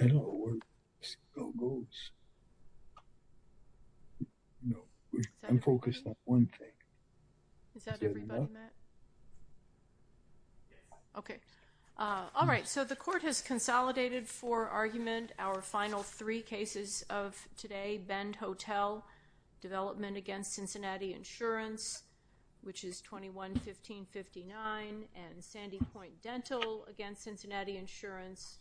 I don't know where it goes. No, I'm focused on one thing. Is that everybody, Matt? Okay. Alright, so the court has consolidated for argument our final three cases of today. Ben Hotel Development against Cincinnati Insurance, which is 21-1559, and Sandy Point Dental against Cincinnati Insurance,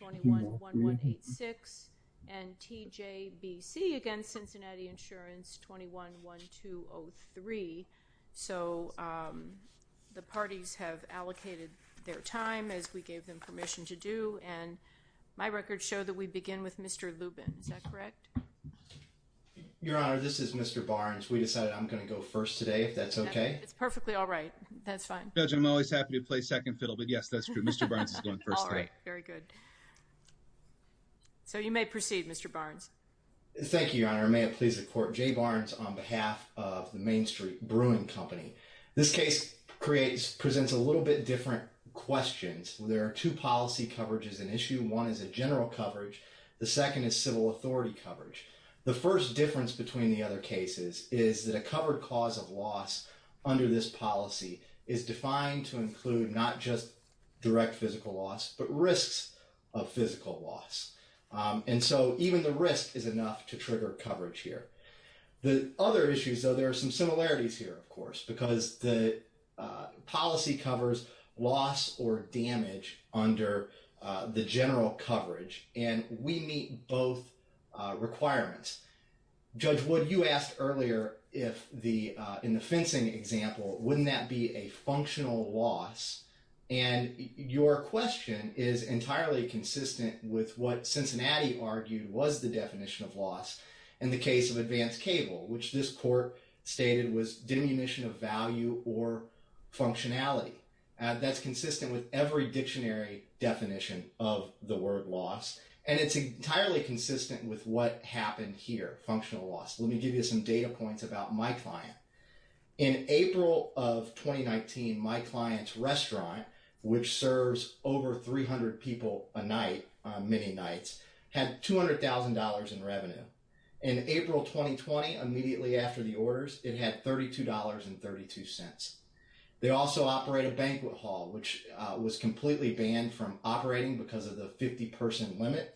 21-1186, and TJBC against Cincinnati Insurance, 21-1203. So the parties have allocated their time as we gave them permission to do, and my records show that we begin with Mr. Lubin. Is that correct? Your Honor, this is Mr. Barnes. We decided I'm going to go first today, if that's okay. It's perfectly all right. That's fine. Judge, I'm always happy to play second fiddle, but yes, that's true. Mr. Barnes is going first. Alright, very good. So you may proceed, Mr. Barnes. Thank you, Your Honor. May it please the court. Jay Barnes on behalf of the Main Street Brewing Company. This case presents a little bit different questions. There are two policy coverages in issue. One is a general coverage. The second is civil authority coverage. The first difference between the other cases is that a covered cause of loss under this policy is defined to include not just direct physical loss, but risks of physical loss. And so even the risk is enough to trigger coverage here. The other issues, though, there are some similarities here, of course, because the policy covers loss or damage under the general coverage, and we meet both requirements. Judge Wood, you asked earlier if the, in the fencing example, wouldn't that be a functional loss? And your question is entirely consistent with what Cincinnati argued was the definition of loss in the case of advanced cable, which this diminution of value or functionality. That's consistent with every dictionary definition of the word loss, and it's entirely consistent with what happened here. Functional loss. Let me give you some data points about my client. In April of 2019, my client's restaurant, which serves over 300 people a night, many nights, had $200,000 in revenue. In April 2020, immediately after the orders, it had $32.32. They also operate a banquet hall, which was completely banned from operating because of the 50-person limit.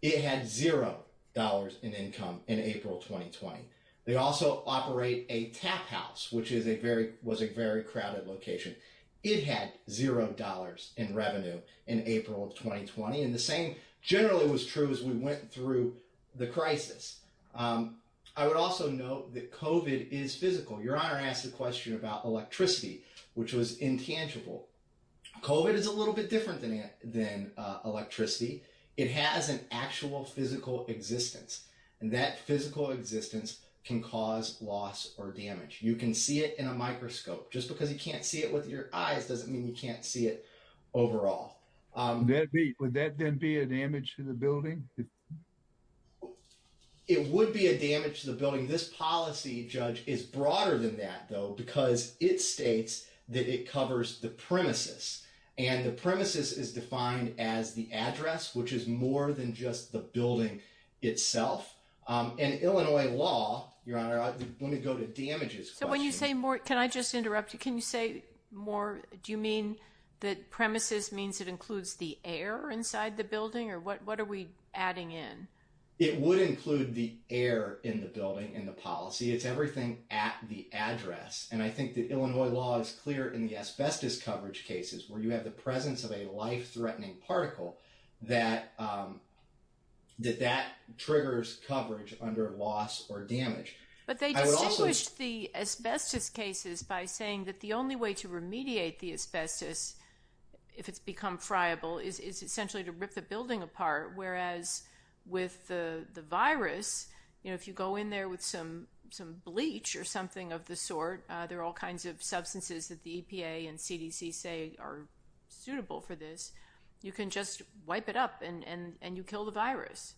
It had $0 in income in April 2020. They also operate a tap house, which is a very, was a very crowded location. It had $0 in revenue in April of 2020, and the same generally was true as we went through the crisis. I would also note that COVID is physical. Your Honor asked a question about electricity, which was intangible. COVID is a little bit different than electricity. It has an actual physical existence, and that physical existence can cause loss or damage. You can see it in a microscope. Just because you can't see it with your eyes doesn't mean you can't see it overall. Would that then be a damage to the building? It would be a damage to the building. This policy, Judge, is broader than that, though, because it states that it covers the premises, and the premises is defined as the address, which is more than just the building itself. In Illinois law, Your Honor, I want to go to damages questions. When you say more, can I just interrupt you? Can you say more, do you mean that premises means it includes the air inside the building, or what are we adding in? It would include the air in the building in the policy. It's everything at the address, and I think that Illinois law is clear in the asbestos coverage cases, where you have the presence of a life-threatening particle that triggers coverage under loss or damage. But they distinguish the asbestos cases by saying that the only way to remediate the asbestos, if it's become friable, is essentially to rip the building apart, whereas with the virus, if you go in there with some bleach or something of the sort, there are all kinds of substances that the EPA and CDC say are safe, and you just wipe it up, and you kill the virus.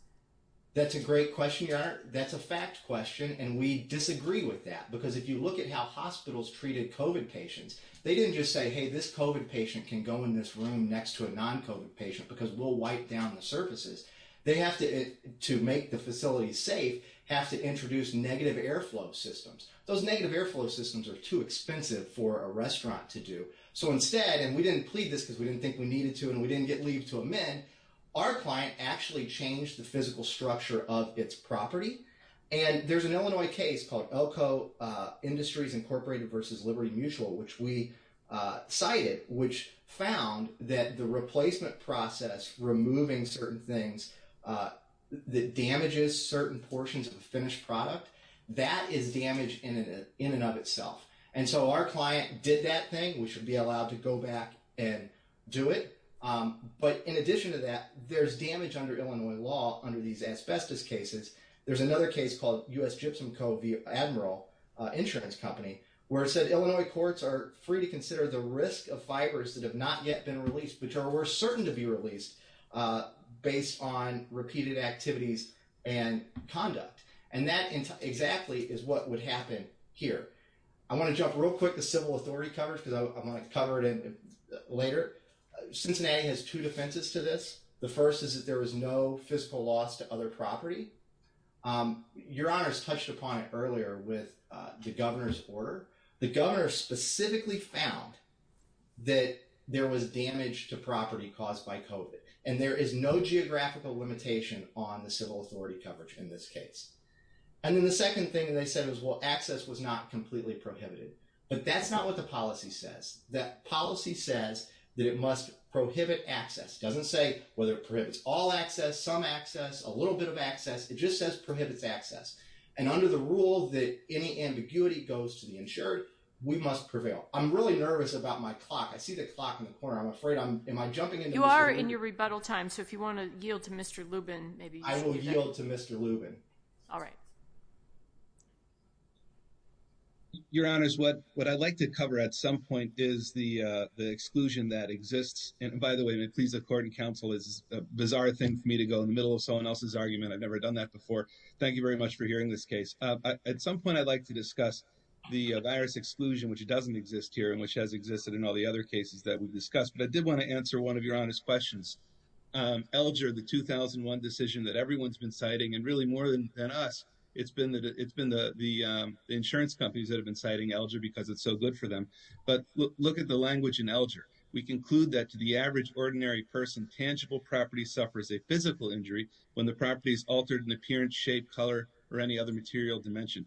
That's a great question, Your Honor. That's a fact question, and we disagree with that, because if you look at how hospitals treated COVID patients, they didn't just say, hey, this COVID patient can go in this room next to a non-COVID patient, because we'll wipe down the surfaces. They have to, to make the facilities safe, have to introduce negative airflow systems. Those negative airflow systems are too expensive for a restaurant to do. So instead, and we didn't plead this because we didn't think we needed to, and we didn't get leave to amend, our client actually changed the physical structure of its property. There's an Illinois case called Elko Industries Incorporated versus Liberty Mutual, which we cited, which found that the replacement process, removing certain things that damages certain portions of the finished product, that is damage in and of itself. So our client did that thing. We should be allowed to go back and do it. But in addition to that, there's damage under Illinois law under these asbestos cases. There's another case called U.S. Gypsum Co. v. Admiral Insurance Company, where it said Illinois courts are free to consider the risk of fibers that have not yet been released, which are worse certain to be released based on repeated activities and conduct. And that exactly is what would happen here. I want to jump real quick to civil authority coverage because I'm going to cover it later. Cincinnati has two defenses to this. The first is that there was no fiscal loss to other property. Your Honors touched upon it earlier with the governor's order. The governor specifically found that there was damage to property caused by COVID. And there is no geographical limitation on the civil authority coverage in this case. And then the second thing they said is, well, it's not completely prohibited. But that's not what the policy says. That policy says that it must prohibit access. It doesn't say whether it prohibits all access, some access, a little bit of access. It just says prohibits access. And under the rule that any ambiguity goes to the insured, we must prevail. I'm really nervous about my clock. I see the clock in the corner. I'm afraid I'm, am I jumping into Mr. Lubin? You are in your rebuttal time. So if you want to yield to Mr. Lubin, maybe you should do that. I will yield to Mr. Lubin. All right. Your Honors, what I'd like to cover at some point is the exclusion that exists. And by the way, please, the court and counsel is a bizarre thing for me to go in the middle of someone else's argument. I've never done that before. Thank you very much for hearing this case. At some point, I'd like to discuss the virus exclusion, which doesn't exist here and which has existed in all the other cases that we've discussed. But I did want to answer one of your Honor's questions. Elger, the 2001 decision that everyone's been citing, and really more than us, it's been the insurance companies that have been citing Elger because it's so good for them. But look at the language in Elger. We conclude that to the average ordinary person, tangible property suffers a physical injury when the property is altered in appearance, shape, color, or any other material dimension.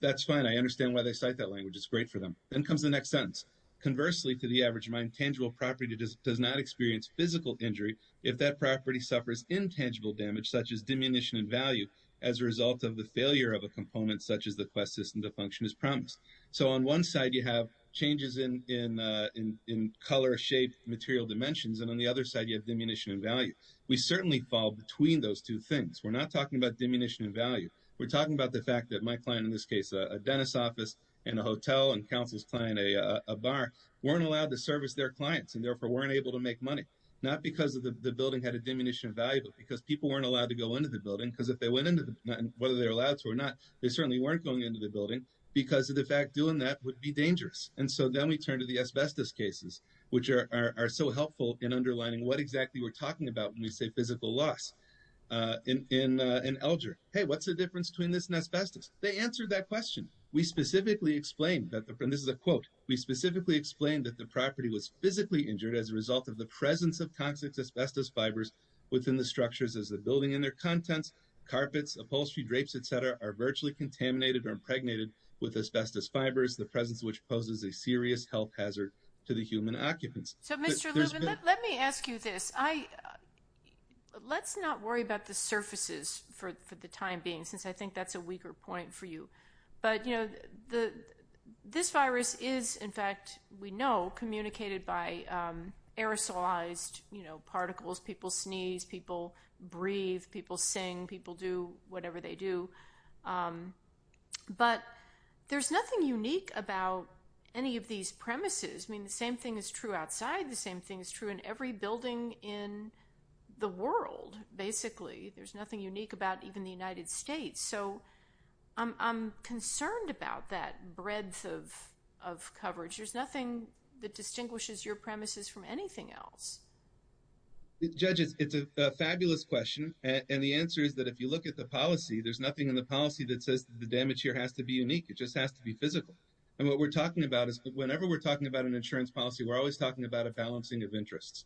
That's fine. I understand why they cite that language. It's great for them. Then comes the next sentence. Conversely, to the average mind, tangible property does not experience physical injury if that property suffers intangible damage such as diminution in value as a result of failure of a component such as the quest system to function as promised. On one side, you have changes in color, shape, material dimensions. On the other side, you have diminution in value. We certainly fall between those two things. We're not talking about diminution in value. We're talking about the fact that my client, in this case, a dentist's office and a hotel and counsel's client, a bar, weren't allowed to service their clients and therefore weren't able to make money. Not because the building had a diminution in value, but because people weren't allowed to go into the building. If they went into the building, whether they were allowed to or not, they certainly weren't going into the building because of the fact that doing that would be dangerous. Then we turn to the asbestos cases, which are so helpful in underlining what exactly we're talking about when we say physical loss. In Elger, what's the difference between this and asbestos? They answered that question. We specifically explained that the property was physically injured as a result of the presence of toxic asbestos fibers within the structures as the building and their contents, carpets, upholstery, drapes, et cetera, are virtually contaminated or impregnated with asbestos fibers, the presence of which poses a serious health hazard to the human occupants. So, Mr. Lubin, let me ask you this. Let's not worry about the surfaces for the time being, since I think that's a weaker point for you. But this virus is, in fact, we know, communicated by aerosolized particles. People sneeze. People breathe. People sing. People do whatever they do. But there's nothing unique about any of these premises. The same thing is true outside. The same thing is true in every building in the world, basically. There's nothing unique about even the United States. So I'm concerned about that breadth of coverage. There's nothing that distinguishes your premises from anything else. Judge, it's a fabulous question. And the answer is that if you look at the policy, there's nothing in the policy that says the damage here has to be unique. It just has to be physical. And what we're talking about is whenever we're talking about an insurance policy, we're always talking about a balancing of interests.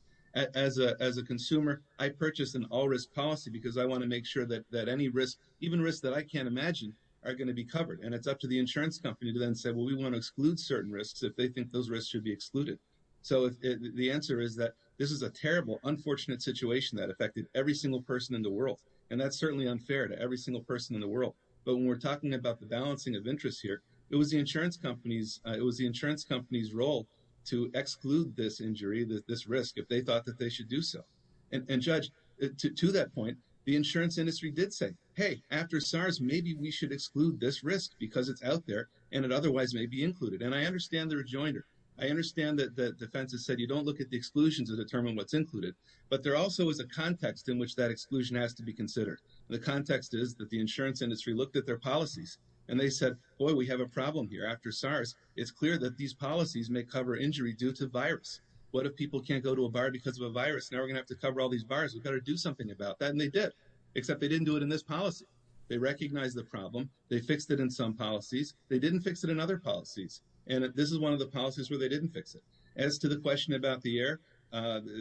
As a consumer, I purchase an all-risk policy because I want to make sure that any risk, even risks that I can't imagine, are going to be covered. And it's up to the insurance company to then say, well, we want to exclude certain risks if they think those risks should be excluded. So the answer is that this is a terrible, unfortunate situation that affected every single person in the world. And that's certainly unfair to every single person in the world. But when we're talking about the balancing of interests here, it was the insurance company's role to exclude this injury, this risk, if they thought that they should do so. And Judge, to that point, the insurance industry did say, hey, after SARS, maybe we should exclude this risk because it's out there and it otherwise may be included. And I understand their rejoinder. I understand that the defense has said you don't look at the exclusions to determine what's included. But there also is a context in which that exclusion has to be considered. The context is that the insurance industry looked at their policies and they said, boy, we have a problem here. After SARS, it's clear that these policies may cover injury due to virus. What if people can't go to a bar because of a virus? Now we're going to have to cover all these bars. We've got to do something about that. And they did, except they didn't do it in this policy. They recognized the problem. They fixed it in some policies. They didn't fix it in other policies. And this is one of the policies where they didn't fix it. As to the question about the air,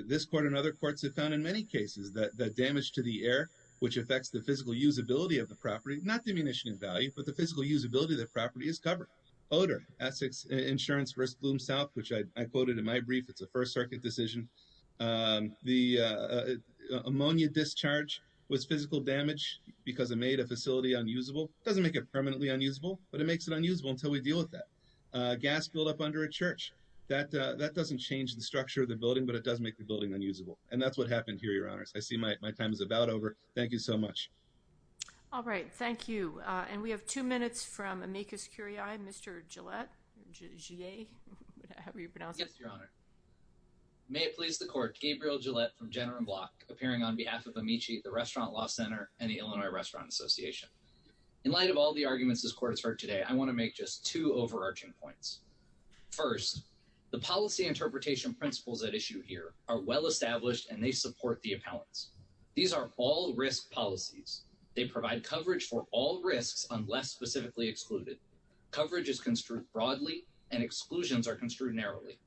this court and other courts have found in many cases that damage to the air, which affects the physical usability of the property, not diminishing in value, but the physical usability of the property is covered. Odor, Essex Insurance Risk Bloom South, which I quoted in my brief, it's a First Circuit decision. The ammonia discharge was physical damage because it made a facility unusable. It doesn't make it permanently unusable, but it makes it unusable until we deal with that. Gas build-up under a church, that doesn't change the structure of the building, but it does make the building unusable. And that's what happened here, Your Honors. I see my time is about over. Thank you so much. All right. Thank you. And we have two minutes from Amicus Curiae, Mr. Gillette. How were you pronounced? Yes, Your Honor. May it please the court, Gabriel Gillette from Jenner and Block, appearing on behalf of Amici, the Restaurant Law Center, and the Illinois Restaurant Association. In light of all the arguments this court has heard today, I want to make just two points. First, the policy interpretation principles at issue here are well-established, and they support the appellants. These are all risk policies. They provide coverage for all risks unless specifically excluded. Coverage is construed broadly, and exclusions are construed narrowly.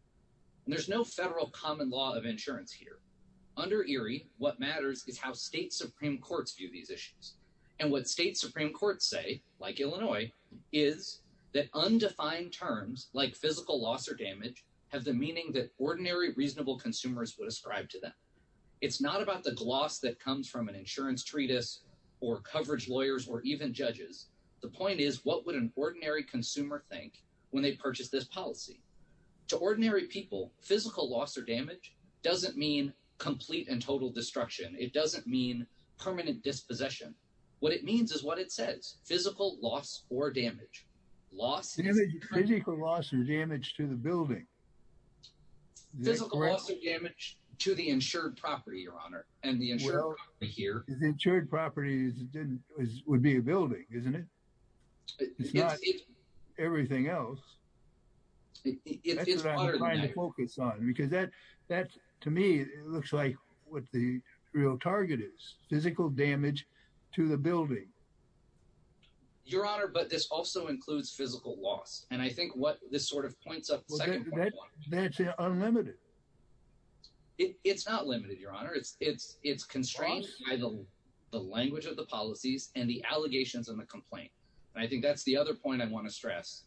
There's no federal common law of insurance here. Under Erie, what matters is how state Supreme Courts view these issues. And what state Supreme Courts say, like Illinois, is that undefined terms, like physical loss or damage, have the meaning that ordinary, reasonable consumers would ascribe to them. It's not about the gloss that comes from an insurance treatise or coverage lawyers or even judges. The point is, what would an ordinary consumer think when they purchase this policy? To ordinary people, physical loss or damage doesn't mean complete and total destruction. It doesn't mean permanent dispossession. What it means is physical loss or damage to the building. Physical loss or damage to the insured property, Your Honor, and the insured property here. The insured property would be a building, isn't it? It's not everything else. That's what I'm trying to focus on, because that, to me, looks like what the real target is, physical damage to the building. Your Honor, but this also includes physical loss. And I think what this sort of points up, Well, that's unlimited. It's not limited, Your Honor. It's constrained by the language of the policies and the allegations and the complaint. And I think that's the other point I want to stress.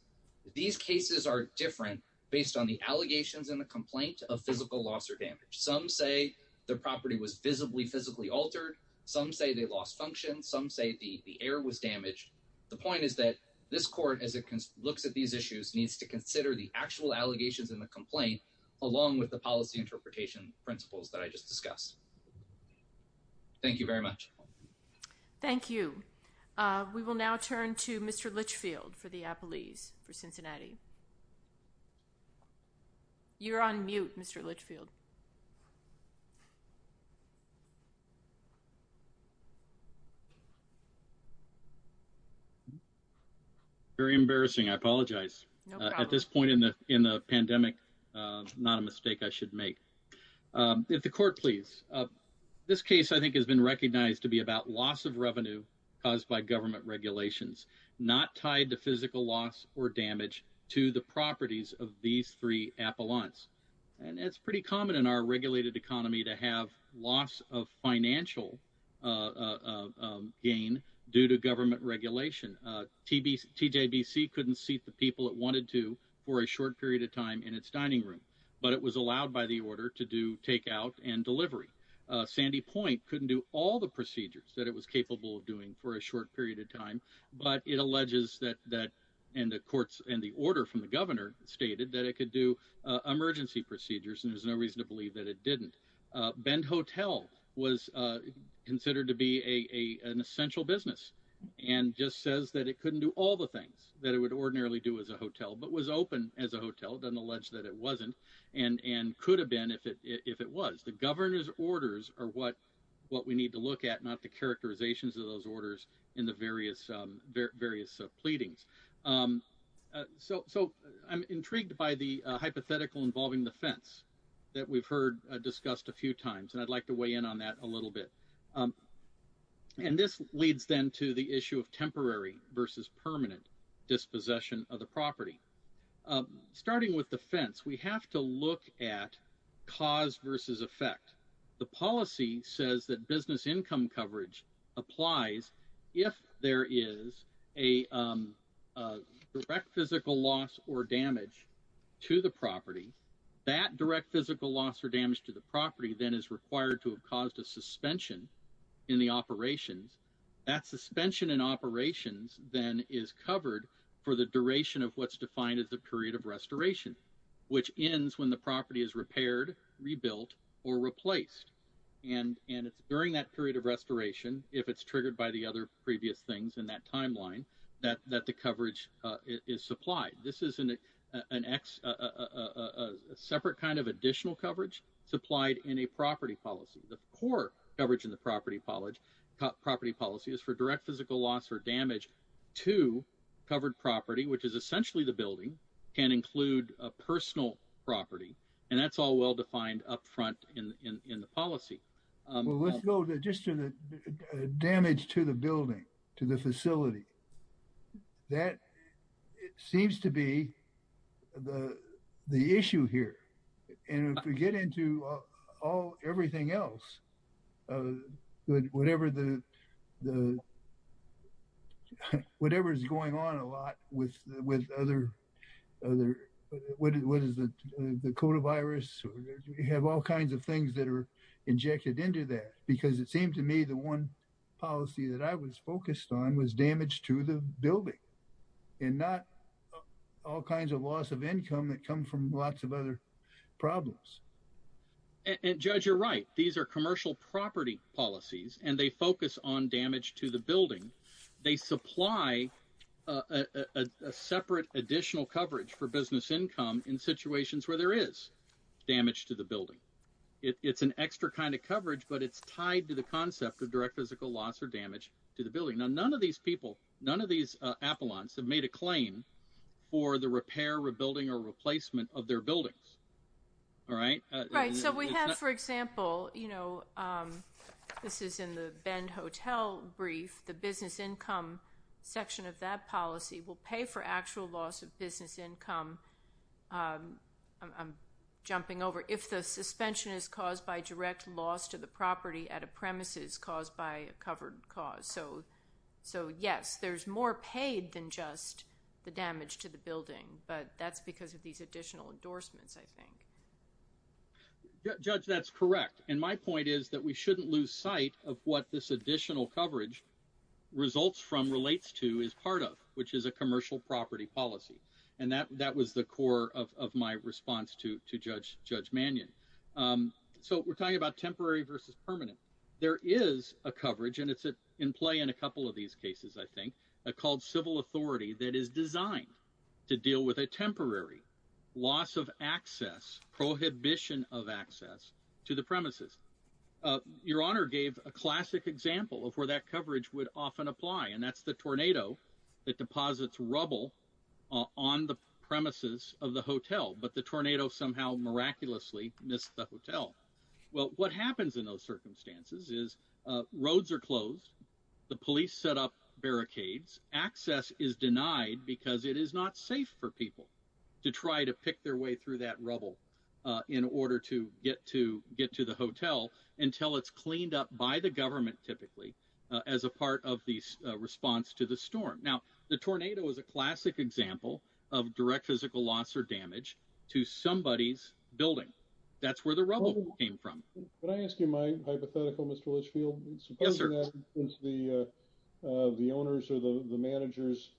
These cases are different based on the allegations and the complaint of physical loss or damage. Some say the property was visibly, physically altered. Some say they lost function. Some say the air was damaged. The point is that this court, as it looks at these issues, needs to consider the actual allegations and the complaint, along with the policy interpretation principles that I just discussed. Thank you very much. Thank you. We will now turn to Mr. Litchfield for the testimony. Very embarrassing. I apologize. At this point in the pandemic, not a mistake I should make. If the Court please. This case, I think, has been recognized to be about loss of revenue caused by government regulations, not tied to physical loss or damage to the properties of these three appellants. And it's pretty common in our regulated economy to have loss of financial gain due to government regulation. TJBC couldn't seat the people it wanted to for a short period of time in its dining room, but it was allowed by the order to do takeout and delivery. Sandy Point couldn't do all the procedures that it was capable of doing for a short period of time, but it alleges that, and the order from the Governor stated that it could do emergency procedures, and there's no reason to believe that it didn't. Bend Hotel was considered to be an essential business, and just says that it couldn't do all the things that it would ordinarily do as a hotel, but was open as a hotel, then alleged that it wasn't, and could have been if it was. The Governor's orders are what we need to look at, not the characterizations of those that we've heard discussed a few times, and I'd like to weigh in on that a little bit. And this leads then to the issue of temporary versus permanent dispossession of the property. Starting with the fence, we have to look at cause versus effect. The policy says that business direct physical loss or damage to the property then is required to have caused a suspension in the operations. That suspension in operations then is covered for the duration of what's defined as the period of restoration, which ends when the property is repaired, rebuilt, or replaced. And it's during that period of restoration, if it's triggered by the other previous things in that timeline, that the coverage is supplied. This isn't a separate kind of additional coverage supplied in a property policy. The core coverage in the property policy is for direct physical loss or damage to covered property, which is essentially the building, can include a personal property, and that's all well defined up front in the policy. Well, let's go just to the damage to the building, to the facility. That seems to be the issue here. And if we get into everything else, whatever the, whatever's going on a lot with other, what is it, the coronavirus, we have all kinds of things that are injected into that. Because it seemed to me the one policy that I was focused on was damage to the building, and not all kinds of loss of income that come from lots of other problems. And Judge, you're right. These are commercial property policies, and they focus on damage to the building. They supply a separate additional coverage for business income in situations where there is damage to the building. It's an extra kind of coverage, but it's tied to the concept of direct physical loss or damage to the building. Now, none of these people, none of these apollons have made a claim for the repair, rebuilding, or replacement of their buildings, all right? Right. So we have, for example, you know, this is in the Bend Hotel brief, the business income section of that policy will pay for actual loss of business income, I'm jumping over, if the suspension is caused by direct loss to the property at a premises caused by a covered cause. So yes, there's more paid than just the damage to the building, but that's because of these additional endorsements, I think. Judge, that's correct. And my point is that we is part of, which is a commercial property policy. And that was the core of my response to Judge Mannion. So we're talking about temporary versus permanent. There is a coverage, and it's in play in a couple of these cases, I think, called civil authority that is designed to deal with a temporary loss of access, prohibition of access to the premises. Your Honor gave a classic example of where that coverage would often apply, and that's the tornado that deposits rubble on the premises of the hotel, but the tornado somehow miraculously missed the hotel. Well, what happens in those circumstances is roads are closed, the police set up barricades, access is denied because it is not safe for people to try to pick their way through that rubble in order to get to the hotel until it's cleaned up by the government, typically, as a part of the response to the storm. Now, the tornado is a classic example of direct physical loss or damage to somebody's building. That's where the rubble came from. Can I ask you my hypothetical, Mr. Litchfield? Yes, sir. The owners or the managers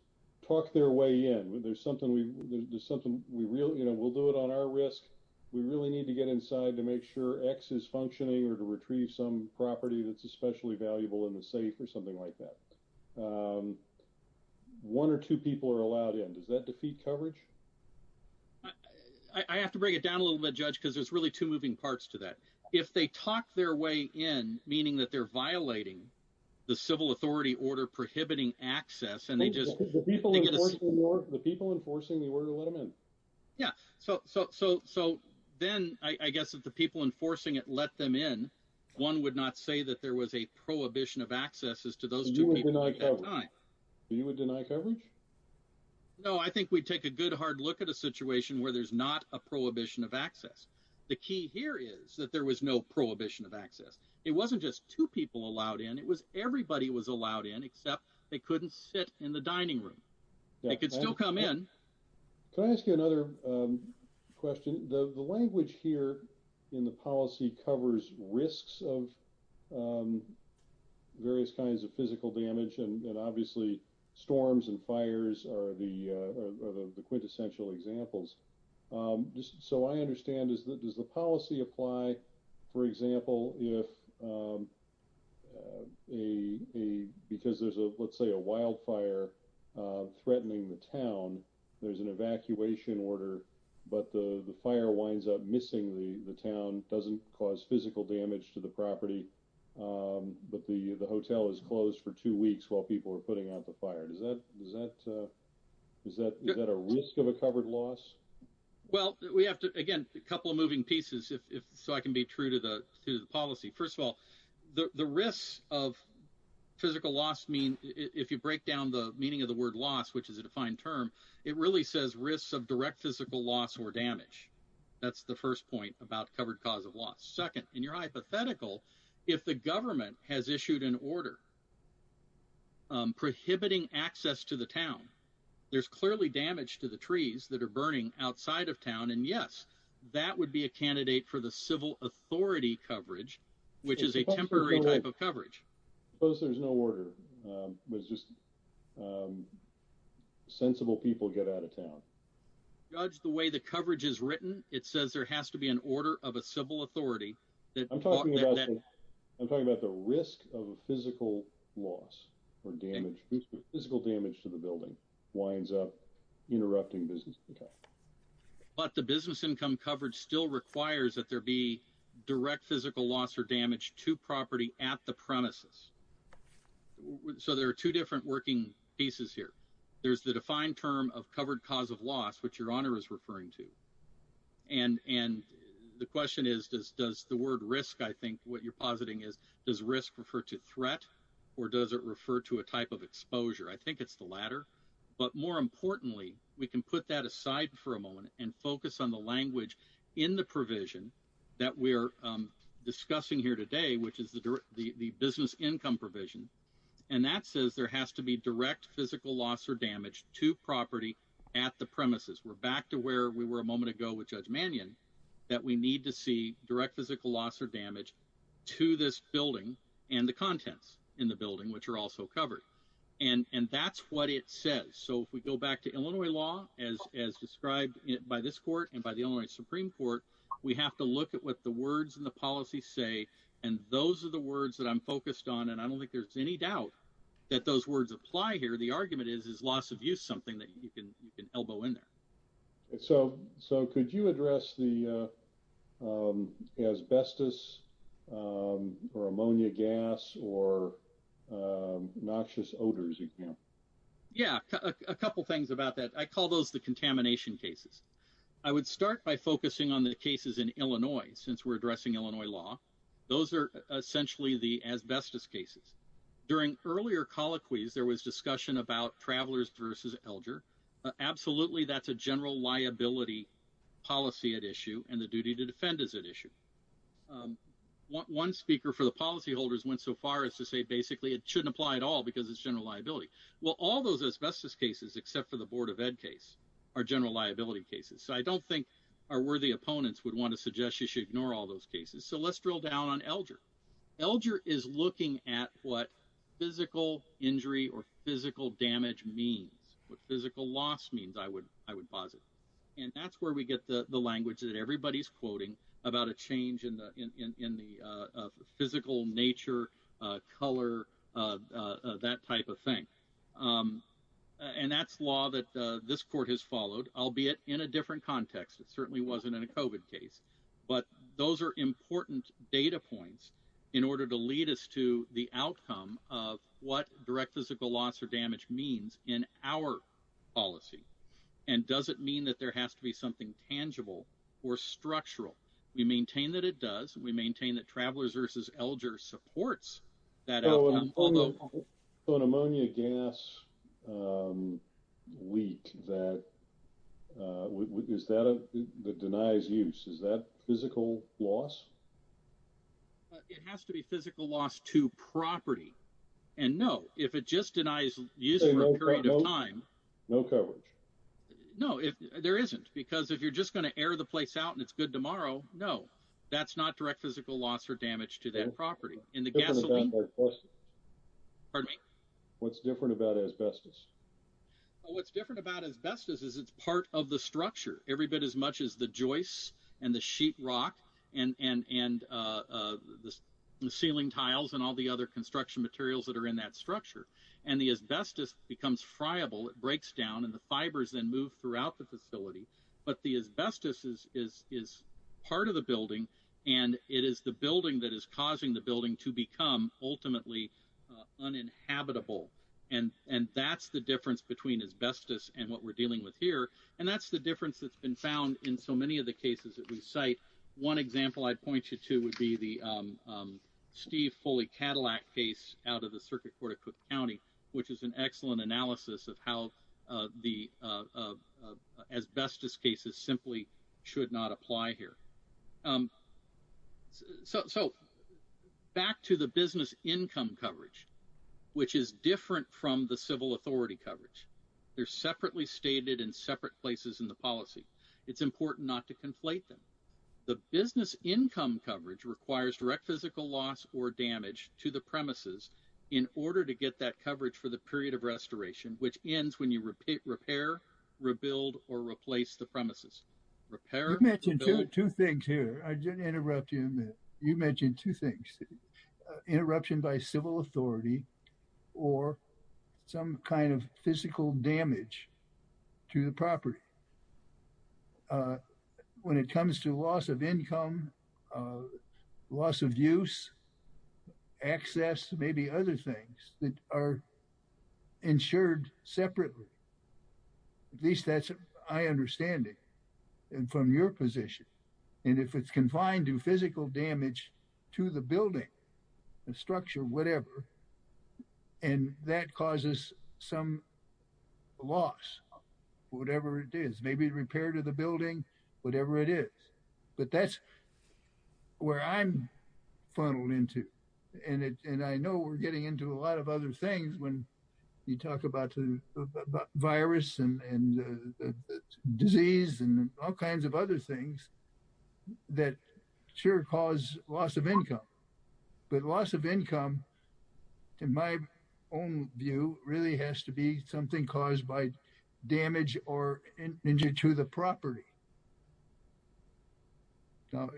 talk their way in. There's something we really, you know, we'll do it on our risk. We really need to get inside to make sure X is functioning or to retrieve some property that's especially valuable in the safe or something like that. One or two people are allowed in. Does that defeat coverage? I have to break it down a little bit, Judge, because there's really two moving parts to that. If they talk their way in, meaning that they're violating the civil authority order prohibiting access and they just... The people enforcing the order let them in? Yeah, so then I guess if the people enforcing it let them in, one would not say that there was a prohibition of access as to those two people at that time. You would deny coverage? No, I think we'd take a good hard look at a situation where there's not a prohibition of access. The key here is that there was no prohibition of access. It wasn't just two people allowed in. It was everybody was allowed in except they couldn't sit in the dining room. They could still come in. Can I ask you another question? The language here in the policy covers risks of various kinds of physical damage and obviously storms and fires are the quintessential examples. So I understand, does the policy apply for example if because there's a, let's say, a wildfire threatening the town, there's an evacuation order but the fire winds up missing the town, doesn't cause physical damage to the property, but the hotel is closed for two weeks while people are putting out the fire. Is that is that a risk of a covered loss? Well, we have to, again, a couple of moving pieces if so I can be true to the policy. First of all, the risks of physical loss mean if you break down the meaning of the word loss, which is a defined term, it really says risks of direct physical loss or damage. That's the first point about covered cause of loss. Second, in your hypothetical, if the government has issued an order prohibiting access to the town, there's clearly damage to the trees that are burning outside of town and yes, that would be a candidate for the civil authority coverage, which is a temporary type of coverage. Suppose there's no order, was just sensible people get out of town. Judge the way the coverage is written, it says there has to be an order of a civil authority. I'm talking about the risk of a physical loss or damage, physical damage to the building winds up interrupting business. But the business income coverage still requires that there be direct physical loss or damage to property at the premises. So there are two different working pieces here. There's the and the question is, does the word risk, I think what you're positing is, does risk refer to threat or does it refer to a type of exposure? I think it's the latter. But more importantly, we can put that aside for a moment and focus on the language in the provision that we're discussing here today, which is the business income provision. And that says there has to be direct physical loss or damage to property at the premises. We're back to where we were a moment ago with Judge Mannion, that we need to see direct physical loss or damage to this building and the contents in the building, which are also covered. And that's what it says. So if we go back to Illinois law, as described by this court and by the only Supreme Court, we have to look at what the words and the policies say. And those are the words that I'm focused on. And I don't think there's any doubt that those words apply here. The argument is, is loss of use something that you can elbow in there. So could you address the asbestos or ammonia gas or noxious odors? Yeah, a couple things about that. I call those the contamination cases. I would start by focusing on the cases in Illinois, since we're addressing Illinois law. Those are essentially the asbestos cases. During earlier colloquies, there was discussion about travelers versus Elger. Absolutely, that's a general liability policy at issue and the duty to defend is at issue. One speaker for the policyholders went so far as to say basically it shouldn't apply at all because it's general liability. Well, all those asbestos cases, except for the Board of Ed case, are general liability cases. So I don't think our worthy opponents would want to suggest you should ignore all those cases. So let's drill down on Elger. Elger is looking at what physical injury or physical damage means, what physical loss means, I would posit. And that's where we get the language that everybody's quoting about a change in the physical nature, color, that type of thing. And that's law that this court has followed, albeit in a different context. It certainly wasn't in a COVID case. But those are important data points in order to lead us to the outcome of what direct physical loss or damage means in our policy. And does it mean that there has to be something tangible or structural? We maintain that it does. We maintain that travelers versus Elger supports that outcome. So an ammonia gas leak that denies use, is that physical loss? It has to be physical loss to property. And no, if it just denies use for a period of time. No coverage. No, there isn't. Because if you're just going to air the place out and it's good tomorrow, no, that's not direct physical loss or damage to that property. What's different about asbestos? What's different about asbestos is it's part of the structure, every bit as much as the joists and the sheet rock and the ceiling tiles and all the other construction materials that are in that structure. And the asbestos becomes friable, it breaks down and the fibers then move throughout the facility. But the asbestos is part of the building and it is the building that is causing the building to become ultimately uninhabitable. And that's the difference between asbestos and what we're dealing with here. And that's the difference that's been found in so many of the cases that we cite. One example I'd point you to would be the Steve Foley Cadillac case out of the Circuit Court of Cook County, which is an excellent analysis of how the asbestos cases simply should not apply here. So back to the business income coverage, which is different from the civil authority coverage. They're separately stated in separate places in the policy. It's important not to conflate them. The business income coverage requires direct physical loss or damage to the premises in order to get that coverage for the period of restoration, which ends when you repair, rebuild or replace the premises. Repair... You mentioned two things here. I didn't interrupt you. You mentioned two things, interruption by civil authority or some kind of physical damage to the property. And I'm wondering if you could talk a little bit more about what that means in terms of the physical damage to the building. I mean, when it comes to loss of income, loss of use, access, maybe other things that are insured separately. At least that's my understanding from your position. And if it's confined to physical damage to the building, the structure, whatever, and that causes some loss, whatever it is, maybe repair to the building, whatever it is. But that's where I'm funneled into. And I know we're getting into a lot of disease and all kinds of other things that sure cause loss of income. But loss of income, in my own view, really has to be something caused by damage or injury to the property.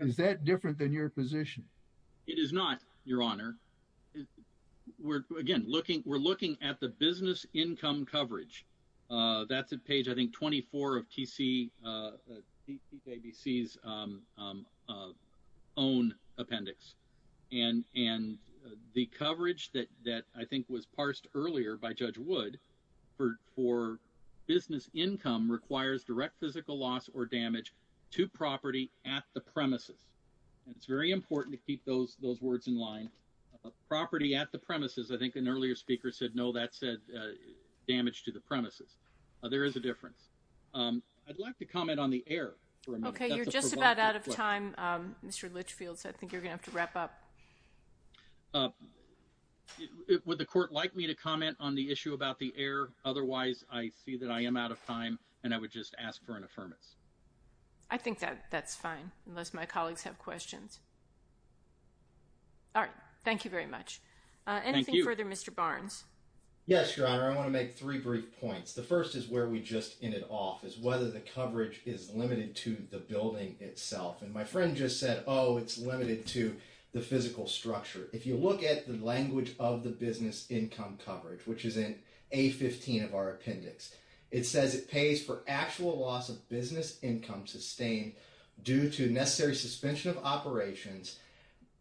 Is that different than your position? It is not, Your Honor. Again, we're looking at the 24 of T.C. ABC's own appendix. And the coverage that I think was parsed earlier by Judge Wood for business income requires direct physical loss or damage to property at the premises. And it's very important to keep those words in line. Property at the premises, I think an earlier speaker said, no, that said damage to the premises. There is a difference. I'd like to comment on the air for a minute. Okay. You're just about out of time, Mr. Litchfield. So I think you're going to have to wrap up. Would the court like me to comment on the issue about the air? Otherwise, I see that I am out of time. And I would just ask for an affirmance. I think that that's fine, unless my colleagues have questions. All right. Thank you very much. Anything further, Mr. Barnes? Yes, Your Honor. I want to make three brief points. The first is where we just ended off, is whether the coverage is limited to the building itself. And my friend just said, oh, it's limited to the physical structure. If you look at the language of the business income coverage, which is in A15 of our appendix, it says it pays for actual loss of business income sustained due to necessary suspension of operations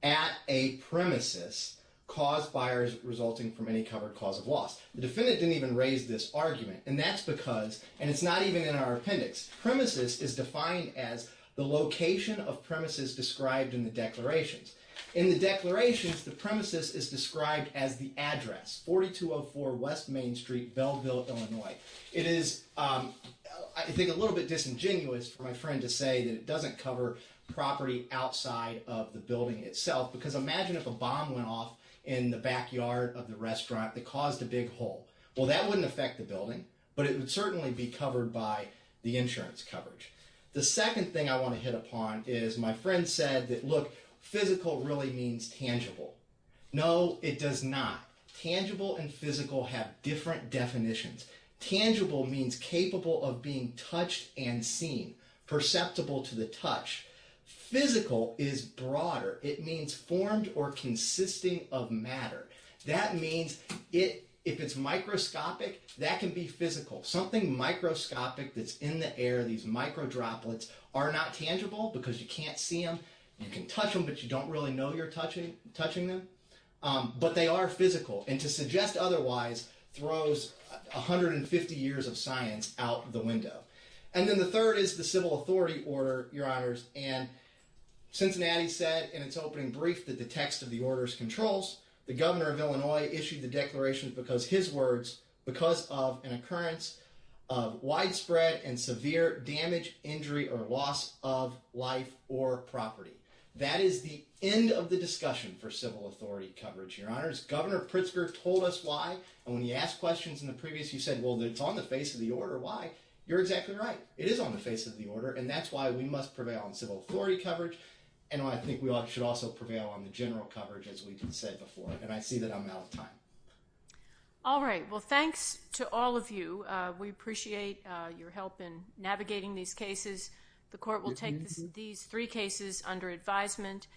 at a premises caused by resulting from any covered cause of loss. The defendant didn't even raise this argument. And that's because, and it's not even in our appendix, premises is defined as the location of premises described in the declarations. In the declarations, the premises is described as the address, 4204 West Main Street, Belleville, Illinois. It is, I think, a little bit disingenuous for my friend to say that it doesn't cover property outside of the building itself. Because imagine if a bomb went off in the backyard of the restaurant that caused a big hole. Well, that wouldn't affect the building, but it would certainly be covered by the insurance coverage. The second thing I want to hit upon is my friend said that, look, physical really means tangible. No, it does not. Tangible and physical have different definitions. Tangible means capable of being touched and seen, perceptible to the eye. Perceptible means if it's microscopic, that can be physical. Something microscopic that's in the air, these micro droplets, are not tangible because you can't see them. You can touch them, but you don't really know you're touching them. But they are physical. And to suggest otherwise throws 150 years of science out the window. And then the third is the civil authority order, your honors. And Cincinnati said in its opening brief that the text of the orders controls. The governor of Illinois issued the declarations because his words, because of an occurrence of widespread and severe damage, injury, or loss of life or property. That is the end of the discussion for civil authority coverage, your honors. Governor Pritzker told us why. And when he asked questions in the previous, he said, well, it's on the face of the order. Why? You're exactly right. It is on the face of the order. And that's why we must prevail on civil authority coverage. And I think should also prevail on the general coverage, as we've said before. And I see that I'm out of time. All right. Well, thanks to all of you. We appreciate your help in navigating these cases. The court will take these three cases under advisement.